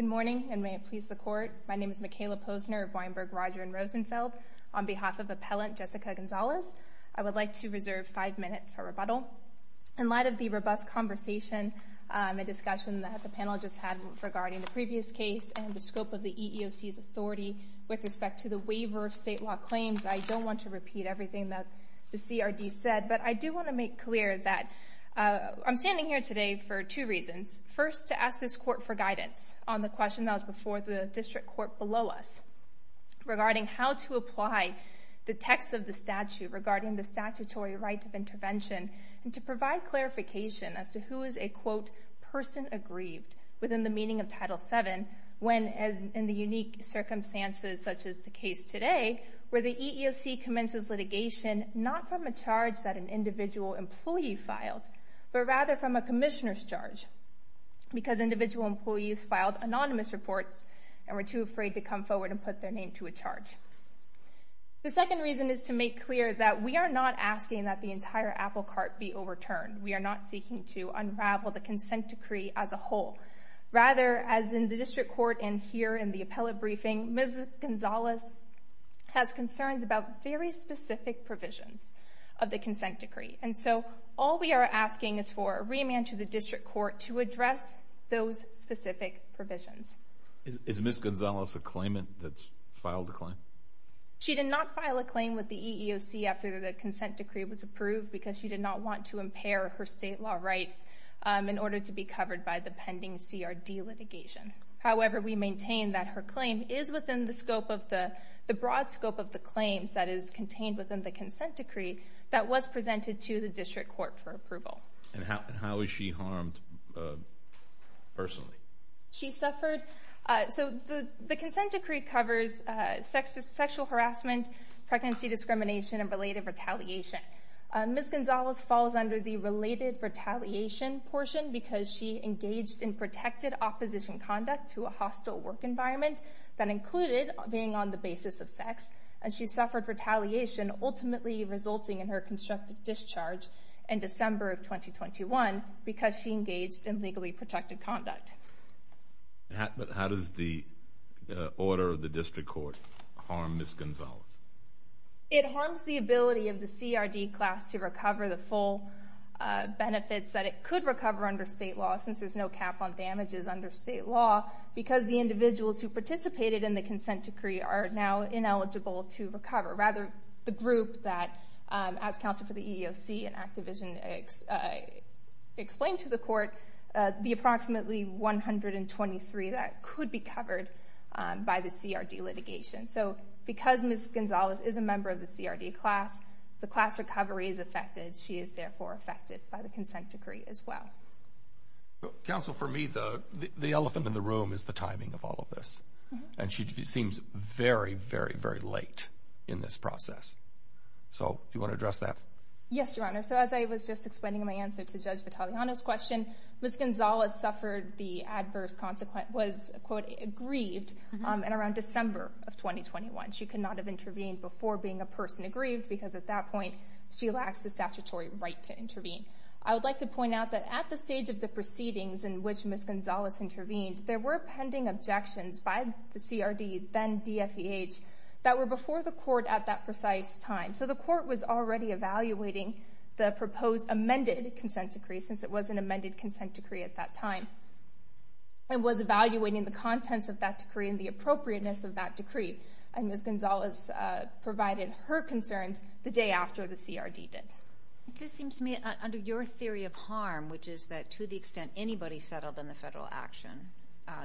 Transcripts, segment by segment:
Good morning, and may it please the Court. My name is Mikayla Posner of Weinberg, Roger & Rosenfeld. On behalf of Appellant Jessica Gonzalez, I would like to reserve five minutes for rebuttal. In light of the robust conversation and discussion that the panel just had regarding the previous case and the scope of the EEOC's authority with respect to the waiver of state law claims, I don't want to repeat everything that the CRD said, but I do want to make clear that I'm standing here today for two reasons. First, to ask this Court for guidance on the question that was before the District Court below us regarding how to apply the text of the statute regarding the statutory right of intervention, and to provide clarification as to who is a, quote, person aggrieved within the meaning of Title VII when, in the unique circumstances such as the case today, where the EEOC commences litigation not from a charge that an individual employee filed, but rather from a commissioner's charge, because individual employees filed anonymous reports and were too afraid to come forward and put their name to a charge. The second reason is to make clear that we are not asking that the entire apple cart be overturned. We are not seeking to unravel the consent decree as a whole. Rather, as in the District Court and here in the appellate briefing, Ms. Gonzalez has concerns about very specific provisions of the consent decree, and so all we are asking is for a remand to the District Court to address those specific provisions. Is Ms. Gonzalez a claimant that's filed a claim? She did not file a claim with the EEOC after the consent decree was approved because she did not want to impair her state law rights in order to be covered by the pending CRD litigation. However, we maintain that her claim is within the scope of the, the broad scope of the claims that is contained within the consent decree that was presented to the District Court for approval. And how is she harmed personally? She suffered, so the consent decree covers sexual harassment, pregnancy discrimination, and related retaliation. Ms. Gonzalez falls under the related retaliation portion because she engaged in protected opposition conduct to a hostile work environment that included being on the basis of sex, and she suffered retaliation, ultimately resulting in her constructive discharge in December of 2021 because she engaged in legally protected conduct. How does the order of the District Court harm Ms. Gonzalez? It harms the ability of the CRD class to recover the full benefits that it could recover under state law, since there's no cap on damages under state law, because the individuals who participated in the consent decree are now ineligible to recover. Rather, the group that, as counsel for the EEOC and Activision explained to the court, the approximately 123 that could be covered by the CRD litigation. So because Ms. Gonzalez is a member of the CRD class, the class recovery is affected. She is therefore affected by the consent decree as well. Counsel, for me, the elephant in the room is the timing of all of this. And she seems very, very, very late in this process. So do you want to address that? Yes, Your Honor. So as I was just explaining in my answer to Judge Vitaleano's question, Ms. Gonzalez suffered the adverse consequence, was, quote, aggrieved in around December of 2021. She could not have intervened before being a person aggrieved, because at that point she lacks the statutory right to intervene. I would like to point out that at the stage of the proceedings in which Ms. Gonzalez intervened, there were pending objections by the CRD, then DFEH, that were before the court at that precise time. So the court was already evaluating the proposed amended consent decree, since it was an amended consent decree at that time, and was evaluating the contents of that decree and the appropriateness of that decree. And Ms. Gonzalez provided her concerns the day after the CRD did. It just seems to me, under your theory of harm, which is that to the extent anybody settled in the federal action,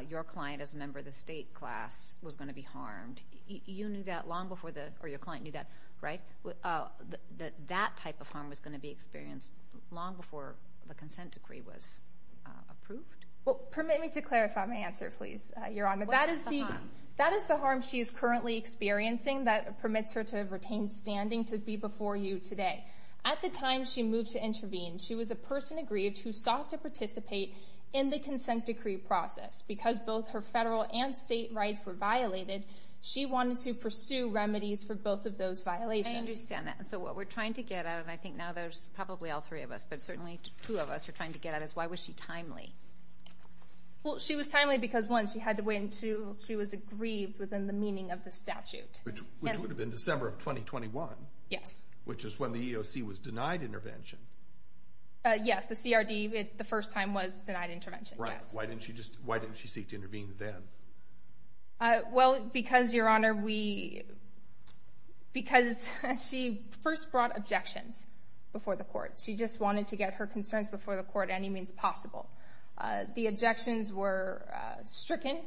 your client as a member of the state class was going to be harmed. You knew that long before the, or your client knew that, right? That that type of harm was going to be experienced long before the consent decree was approved? Well, permit me to clarify my answer, please, Your Honor. What is the harm? That is the harm she is currently experiencing that permits her to retain standing to be before you today. At the time she moved to intervene, she was a person aggrieved who sought to participate in the consent decree process. Because both her federal and state rights were violated, she wanted to pursue remedies for both of those violations. I understand that. So what we're trying to get at, and I think now there's probably all three of us, but certainly two of us are trying to get at, is why was she timely? Well, she was timely because, one, she had to wait until she was aggrieved within the meaning of the statute. Which would have been December of 2021. Yes. Which is when the EEOC was denied intervention. Yes. The CRD, the first time, was denied intervention. Yes. Right. Why didn't she just, why didn't she seek to intervene then? Well, because, Your Honor, we, because she first brought objections before the court. She just wanted to get her concerns before the court at any means possible. The objections were stricken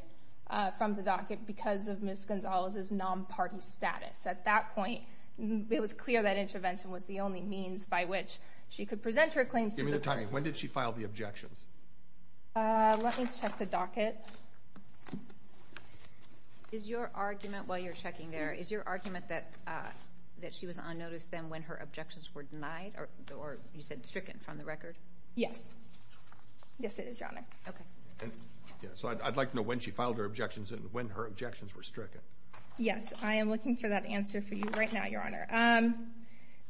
from the docket because of Ms. Gonzalez's non-party status. At that point, it was clear that intervention was the only means by which she could present her claims to the court. Give me the time. When did she file the objections? Let me check the docket. Is your argument, while you're checking there, is your argument that she was on notice then when her objections were denied or, you said, stricken from the record? Yes, it is, Your Honor. Okay. So I'd like to know when she filed her objections and when her objections were stricken. Yes. I am looking for that answer for you right now, Your Honor.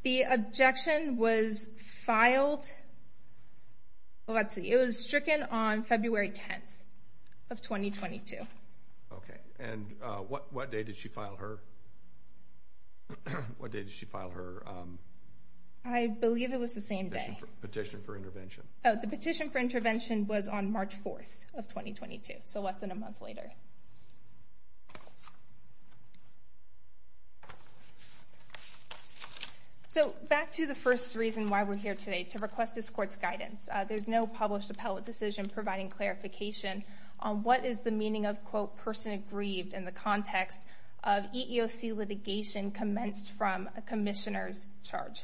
The objection was filed, well, let's see, it was stricken on February 10th of 2022. Okay. And what day did she file her, what day did she file her? I believe it was the same day. Petition for intervention. Oh, the petition for intervention was on March 4th of 2022, so less than a month later. So back to the first reason why we're here today, to request this court's guidance. There's no published appellate decision providing clarification on what is the meaning of, quote, person aggrieved in the context of EEOC litigation commenced from a commissioner's charge.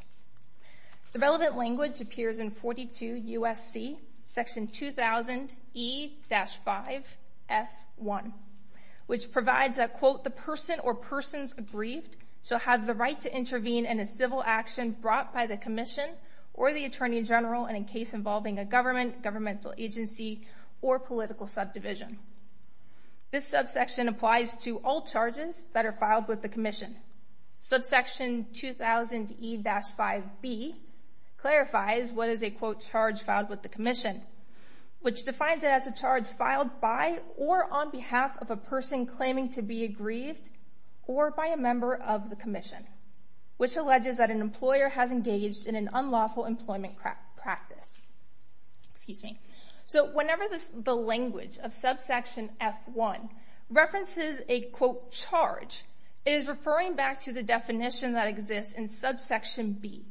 The relevant language appears in 42 U.S.C. section 2000 E-5 F1, which provides that, quote, the person or persons aggrieved shall have the right to intervene in a civil action brought by the commission or the attorney general in a case involving a government, governmental agency, or political subdivision. This subsection applies to all charges that are filed with the commission. Subsection 2000 E-5 B clarifies what is a, quote, charge filed with the commission, which defines it as a charge filed by or on behalf of a person claiming to be aggrieved or by a member of the commission, which alleges that an employer has engaged in an unlawful employment practice. Excuse me. So whenever the language of subsection F1 references a, quote, charge, it is referring back to the definition that exists in subsection B,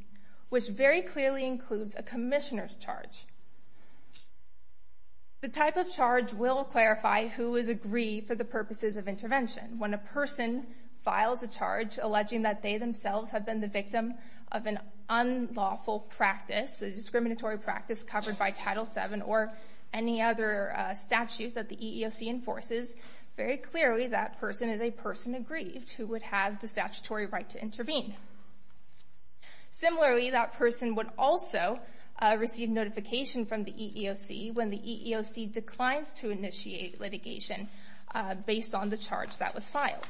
which very clearly includes a commissioner's charge. The type of charge will clarify who is aggrieved for the purposes of intervention. When a person files a charge alleging that they themselves have been the victim of an unlawful practice, a discriminatory practice covered by Title VII or any other statute that the EEOC enforces, very clearly that person is a person aggrieved who would have the statutory right to intervene. Similarly, that person would also receive notification from the EEOC when the EEOC declines to initiate litigation based on the charge that was filed.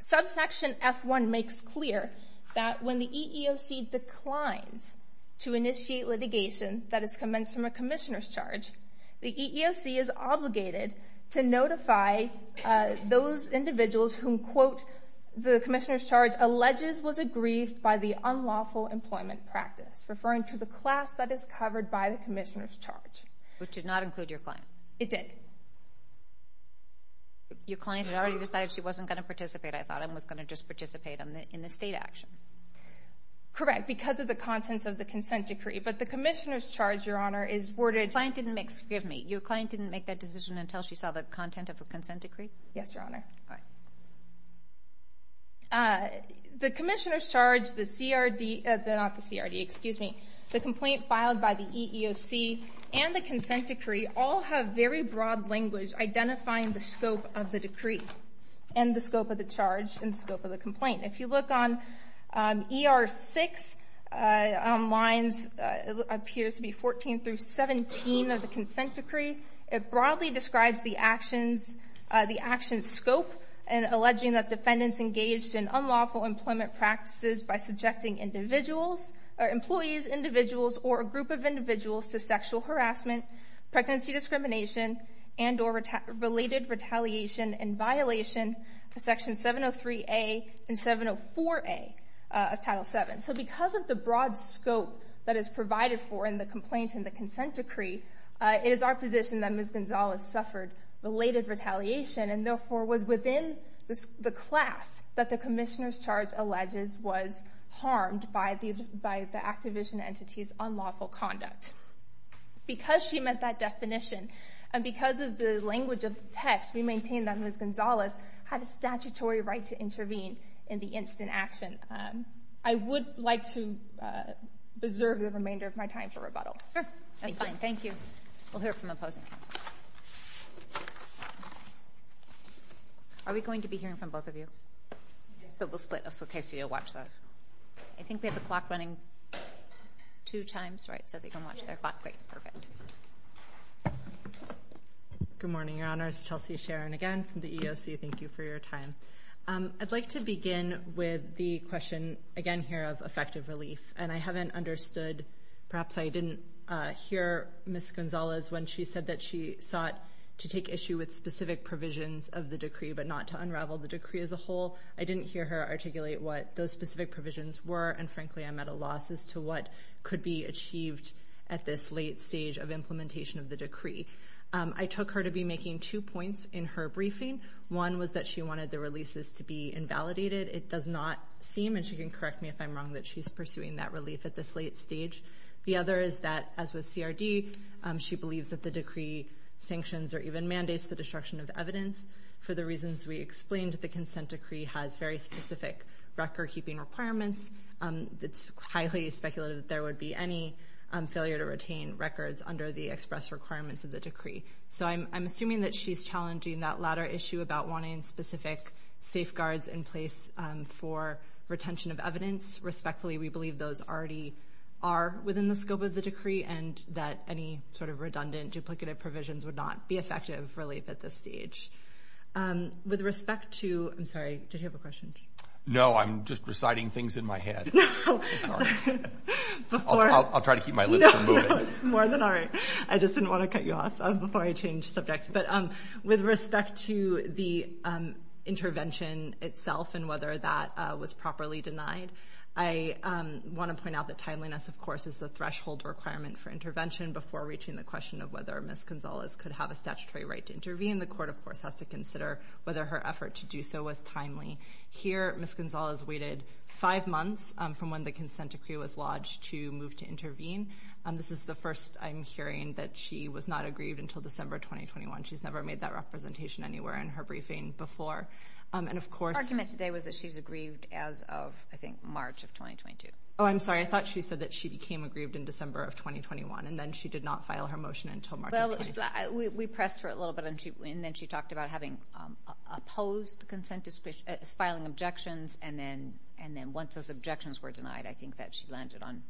Subsection F1 makes clear that when the EEOC declines to initiate litigation that is commenced from a commissioner's charge, the EEOC is obligated to notify those individuals whom, quote, the commissioner's charge alleges was aggrieved by the unlawful employment practice, referring to the class that is covered by the commissioner's charge. Which did not include your client. It did. Your client had already decided she wasn't going to participate. I thought I was going to just participate in the state action. Correct, because of the contents of the consent decree. But the commissioner's charge, Your Honor, is worded. Your client didn't make that decision until she saw the content of the consent decree? Yes, Your Honor. The commissioner's charge, the CRD, not the CRD, excuse me, the complaint filed by the EEOC and the consent decree all have very broad language identifying the scope of the decree and the scope of the charge and the scope of the complaint. If you look on ER 6 on lines, it appears to be 14 through 17 of the consent decree. It broadly describes the actions, the actions scope, and alleging that defendants engaged in unlawful employment practices by subjecting individuals or employees, individuals, or a group of individuals to sexual harassment, pregnancy discrimination, and or related retaliation in violation of Section 703A and 704A of Title VII. So because of the broad scope that is provided for in the complaint and the consent decree, it is our position that Ms. Gonzalez suffered related retaliation and therefore was within the class that the commissioner's charge alleges was harmed by the Activision entity's unlawful conduct. Because she met that definition and because of the language of the text, we maintain that Ms. Gonzalez had a statutory right to intervene in the incident action. I would like to reserve the remainder of my time for rebuttal. Sure. That's fine. Thank you. We'll hear from opposing counsel. Are we going to be hearing from both of you? So we'll split just in case you watch that. I think we have the clock running two times, right, so they can watch their clock. Great. Perfect. Good morning, Your Honors. Chelsea Sharon again from the EEOC. Thank you for your time. I'd like to begin with the question, again, here of effective relief. And I haven't understood, perhaps I didn't hear Ms. Gonzalez when she said that she sought to take issue with specific provisions of the decree but not to unravel the decree as a whole. I didn't hear her articulate what those specific provisions were and, frankly, I'm at a loss as to what could be achieved at this late stage of implementation of the decree. I took her to be making two points in her briefing. One was that she wanted the releases to be invalidated. It does not seem, and she can correct me if I'm wrong, that she's pursuing that relief at this late stage. The other is that, as with CRD, she believes that the decree sanctions or even mandates the destruction of evidence for the reasons we explained that the consent decree has very specific record-keeping requirements. It's highly speculative that there would be any failure to retain records under the express requirements of the decree. So I'm assuming that she's challenging that latter issue about wanting specific safeguards in place for retention of evidence. Respectfully, we believe those already are within the scope of the decree and that any sort of redundant duplicative provisions would not be effective relief at this stage. With respect to—I'm sorry, did you have a question? No, I'm just reciting things in my head. Oh, sorry. I'll try to keep my lips from moving. It's more than all right. I just didn't want to cut you off before I change subjects. But with respect to the intervention itself and whether that was properly denied, I want to point out that timeliness, of course, is the threshold requirement for intervention before reaching the question of whether Ms. Gonzalez could have a statutory right to intervene. The court, of course, has to consider whether her effort to do so was timely. Here, Ms. Gonzalez waited five months from when the consent decree was lodged to move to intervene. This is the first I'm hearing that she was not aggrieved until December 2021. She's never made that representation anywhere in her briefing before. Her argument today was that she's aggrieved as of, I think, March of 2022. Oh, I'm sorry. I thought she said that she became aggrieved in December of 2021, and then she did not file her motion until March of 2022. Well, we pressed her a little bit, and then she talked about having opposed filing objections, and then once those objections were denied, I think that she landed on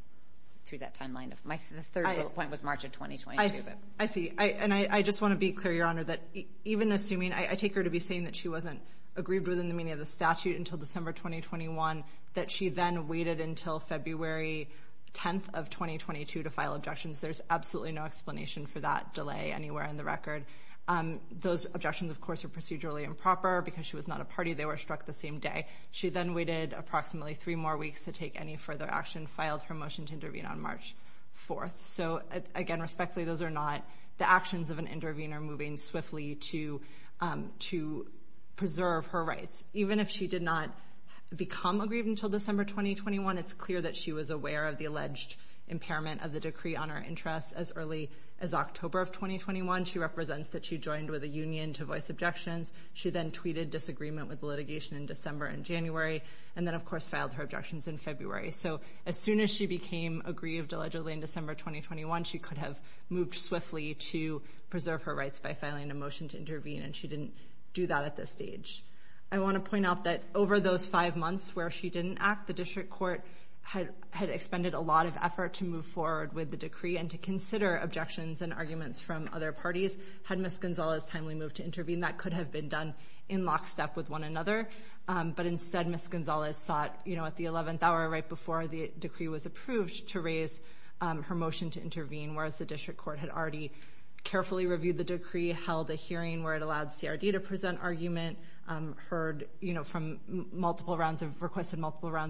through that timeline. My third point was March of 2022. I see. And I just want to be clear, Your Honor, that even assuming I take her to be saying that she wasn't aggrieved within the meaning of the statute until December 2021, that she then waited until February 10th of 2022 to file objections, there's absolutely no explanation for that delay anywhere in the record. Those objections, of course, are procedurally improper. Because she was not a party, they were struck the same day. She then waited approximately three more weeks to take any further action, filed her motion to intervene on March 4th. So, again, respectfully, those are not the actions of an intervener moving swiftly to preserve her rights. Even if she did not become aggrieved until December 2021, it's clear that she was aware of the alleged impairment of the decree on her interests as early as October of 2021. She represents that she joined with a union to voice objections. She then tweeted disagreement with the litigation in December and January, and then, of course, filed her objections in February. So as soon as she became aggrieved allegedly in December 2021, she could have moved swiftly to preserve her rights by filing a motion to intervene, and she didn't do that at this stage. I want to point out that over those five months where she didn't act, the district court had expended a lot of effort to move forward with the decree and to consider objections and arguments from other parties. Had Ms. Gonzalez timely moved to intervene, that could have been done in lockstep with one another. But instead, Ms. Gonzalez sought at the 11th hour, right before the decree was approved, to raise her motion to intervene, whereas the district court had already carefully reviewed the decree, held a hearing where it allowed CRD to present argument, requested multiple rounds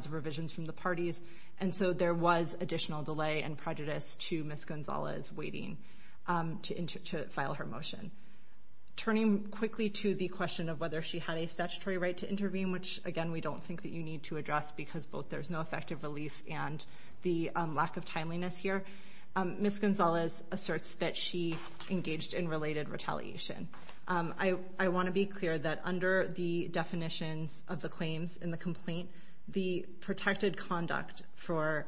of revisions from the parties, and so there was additional delay and prejudice to Ms. Gonzalez waiting to file her motion. Turning quickly to the question of whether she had a statutory right to intervene, which, again, we don't think that you need to address because both there's no effective relief and the lack of timeliness here, Ms. Gonzalez asserts that she engaged in related retaliation. I want to be clear that under the definitions of the claims in the complaint, the protected conduct for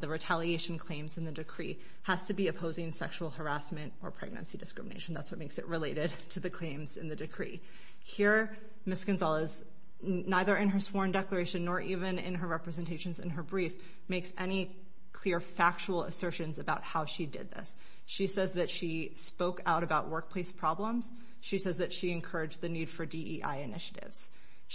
the retaliation claims in the decree has to be opposing sexual harassment or pregnancy discrimination. That's what makes it related to the claims in the decree. Here, Ms. Gonzalez, neither in her sworn declaration nor even in her representations in her brief, makes any clear factual assertions about how she did this. She says that she spoke out about workplace problems. She says that she encouraged the need for DEI initiatives.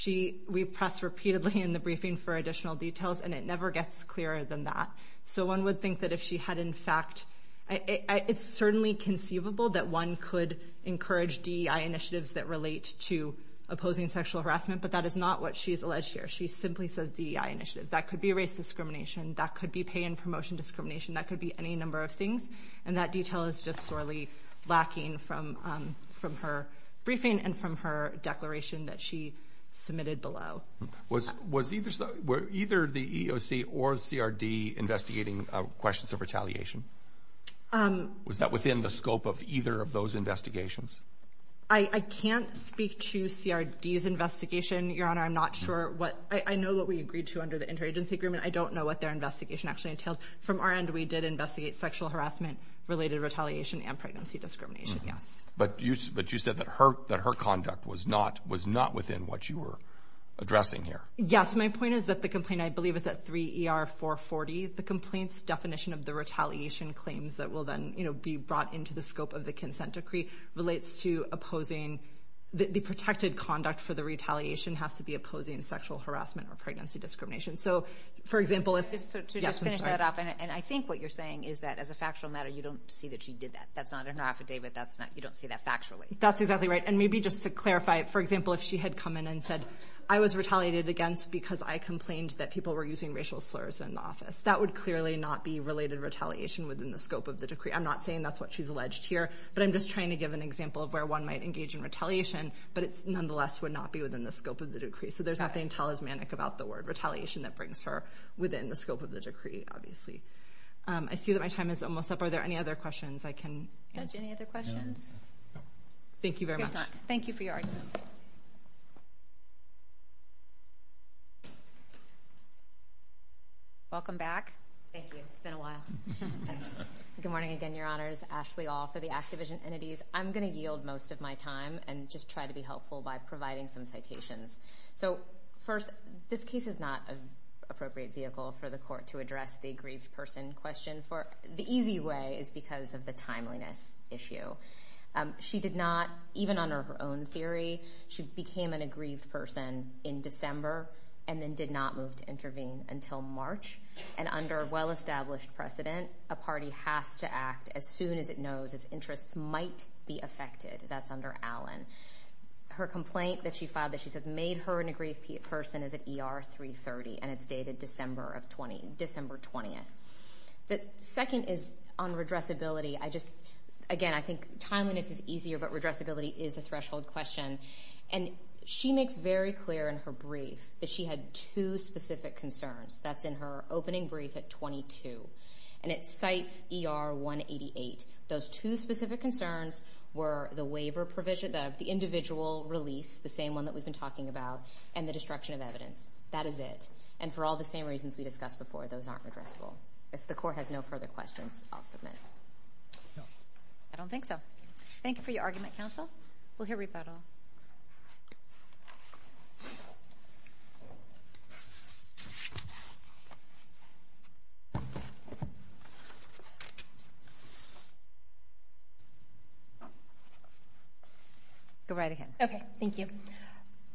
We press repeatedly in the briefing for additional details, and it never gets clearer than that. So one would think that if she had, in fact, it's certainly conceivable that one could encourage DEI initiatives that relate to opposing sexual harassment, but that is not what she has alleged here. She simply says DEI initiatives. That could be race discrimination. That could be pay and promotion discrimination. That could be any number of things, and that detail is just sorely lacking from her briefing and from her declaration that she submitted below. Was either the EEOC or CRD investigating questions of retaliation? Was that within the scope of either of those investigations? I can't speak to CRD's investigation, Your Honor. I'm not sure what. I know what we agreed to under the interagency agreement. I don't know what their investigation actually entailed. From our end, we did investigate sexual harassment-related retaliation and pregnancy discrimination, yes. But you said that her conduct was not within what you were addressing here. Yes, my point is that the complaint, I believe, is at 3 ER 440. The complaint's definition of the retaliation claims that will then be brought into the scope of the consent decree relates to opposing the protected conduct for the retaliation has to be opposing sexual harassment or pregnancy discrimination. To just finish that off, and I think what you're saying is that, as a factual matter, you don't see that she did that. That's not in her affidavit. You don't see that factually. That's exactly right. And maybe just to clarify, for example, if she had come in and said, I was retaliated against because I complained that people were using racial slurs in the office. That would clearly not be related retaliation within the scope of the decree. I'm not saying that's what she's alleged here, but I'm just trying to give an example of where one might engage in retaliation, but it nonetheless would not be within the scope of the decree. So there's nothing talismanic about the word retaliation that brings her within the scope of the decree, obviously. I see that my time is almost up. Are there any other questions I can answer? Any other questions? Thank you very much. Thank you for your argument. Welcome back. Thank you. It's been a while. Good morning again, Your Honors. Ashley All for the Activision Entities. I'm going to yield most of my time and just try to be helpful by providing some citations. So first, this case is not an appropriate vehicle for the court to address the aggrieved person question. The easy way is because of the timeliness issue. She did not, even under her own theory, she became an aggrieved person in December and then did not move to intervene until March. And under well-established precedent, a party has to act as soon as it knows its interests might be affected. That's under Allen. Her complaint that she filed that she says made her an aggrieved person is at ER 330, and it's dated December 20th. The second is on redressability. Again, I think timeliness is easier, but redressability is a threshold question. And she makes very clear in her brief that she had two specific concerns. That's in her opening brief at 22. And it cites ER 188. Those two specific concerns were the waiver provision, the individual release, the same one that we've been talking about, and the destruction of evidence. That is it. And for all the same reasons we discussed before, those aren't redressable. If the court has no further questions, I'll submit. No. I don't think so. Thank you for your argument, counsel. We'll hear rebuttal. Go right ahead. Okay. Thank you.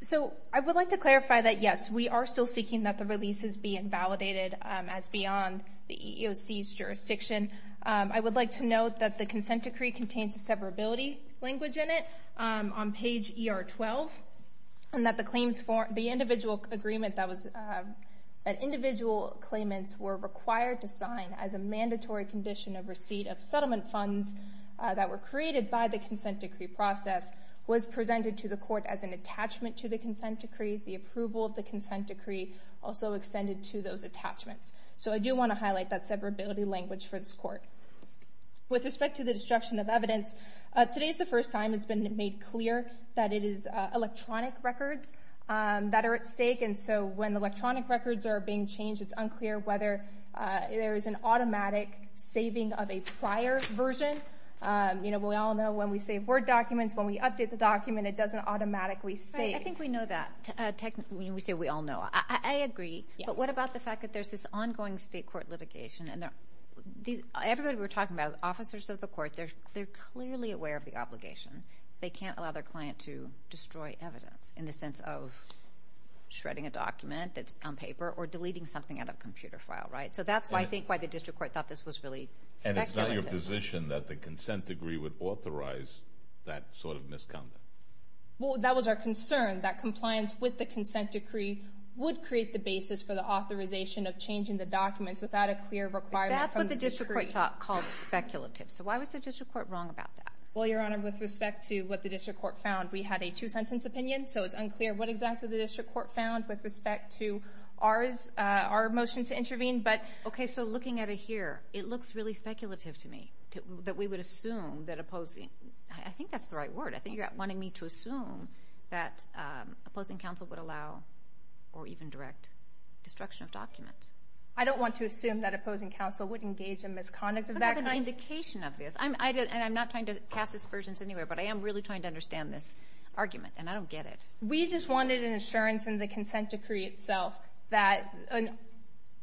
So I would like to clarify that, yes, we are still seeking that the releases be invalidated as beyond the EEOC's jurisdiction. I would like to note that the consent decree contains a severability language in it on page ER 12, and that the claims for the individual agreement that individual claimants were required to sign as a mandatory condition of receipt of settlement funds that were created by the consent decree process was presented to the court as an attachment to the consent decree. The approval of the consent decree also extended to those attachments. So I do want to highlight that severability language for this court. With respect to the destruction of evidence, today is the first time it's been made clear that it is electronic records that are at stake. And so when electronic records are being changed, it's unclear whether there is an automatic saving of a prior version. We all know when we save Word documents, when we update the document, it doesn't automatically save. I think we know that. We say we all know. I agree. But what about the fact that there's this ongoing state court litigation? Everybody we're talking about, officers of the court, they're clearly aware of the obligation. They can't allow their client to destroy evidence in the sense of shredding a computer file, right? So that's, I think, why the district court thought this was really speculative. And it's not your position that the consent decree would authorize that sort of misconduct. Well, that was our concern, that compliance with the consent decree would create the basis for the authorization of changing the documents without a clear requirement. That's what the district court thought called speculative. So why was the district court wrong about that? Well, Your Honor, with respect to what the district court found, we had a two-sentence opinion, so it's unclear what exactly the district court found with respect to our motion to intervene. Okay. So looking at it here, it looks really speculative to me that we would assume that opposing, I think that's the right word. I think you're wanting me to assume that opposing counsel would allow or even direct destruction of documents. I don't want to assume that opposing counsel would engage in misconduct of that kind. I don't have an indication of this, and I'm not trying to cast aspersions anywhere, but I am really trying to understand this argument, and I don't get it. We just wanted an assurance in the consent decree itself that,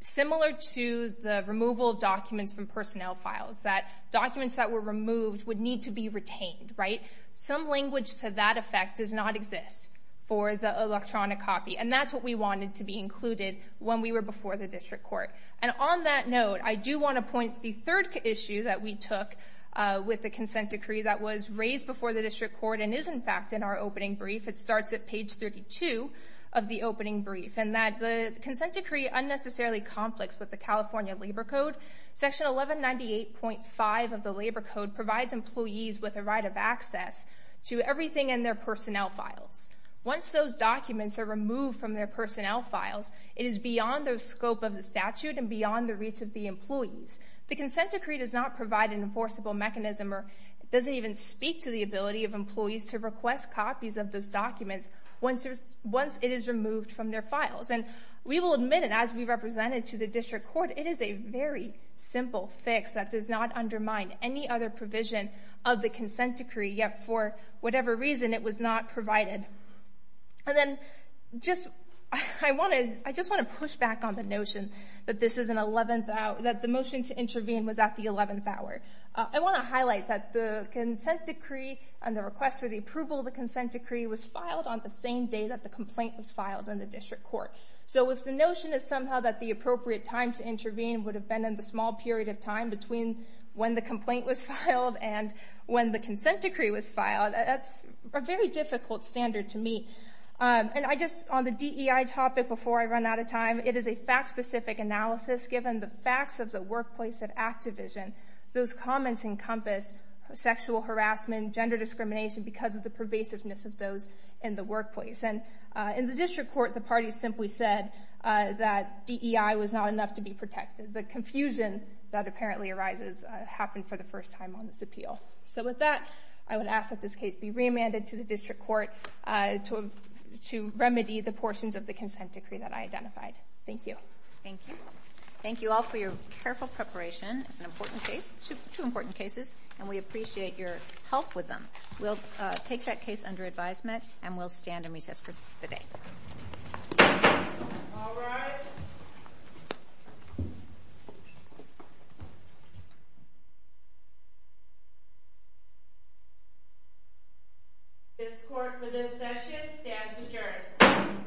similar to the removal of documents from personnel files, that documents that were removed would need to be retained, right? Some language to that effect does not exist for the electronic copy, and that's what we wanted to be included when we were before the district court. And on that note, I do want to point the third issue that we took with the consent decree that was raised before the district court and is, in fact, in our opening brief. It starts at page 32 of the opening brief, and that the consent decree unnecessarily conflicts with the California Labor Code. Section 1198.5 of the Labor Code provides employees with a right of access to everything in their personnel files. Once those documents are removed from their personnel files, it is beyond the scope of the statute and beyond the reach of the employees. The consent decree does not provide an enforceable mechanism, or it doesn't even speak to the ability of employees to request copies of those documents once it is removed from their files. And we will admit it, as we represented to the district court, it is a very simple fix that does not undermine any other provision of the consent decree, yet for whatever reason it was not provided. And then just, I want to, I just want to push back on the notion that this is an 11th hour, that the motion to intervene was at the 11th hour. I want to highlight that the consent decree and the request for the approval of the consent decree was filed on the same day that the complaint was filed in the district court. So if the notion is somehow that the appropriate time to intervene would have been in the small period of time between when the complaint was filed and when the consent decree was filed, that's a very difficult standard to meet. And I just, on the DEI topic before I run out of time, it is a fact-specific analysis. Given the facts of the workplace at Activision, those comments encompass sexual harassment, sexism and gender discrimination because of the pervasiveness of those in the workplace. And in the district court, the party simply said that DEI was not enough to be protected. The confusion that apparently arises happened for the first time on this appeal. So with that, I would ask that this case be remanded to the district court to, to remedy the portions of the consent decree that I identified. Thank you. Thank you. Thank you all for your careful preparation. It's an important case, two important cases, and we appreciate your help with them. We'll take that case under advisement, and we'll stand in recess for the day. All rise. This court for this session stands adjourned.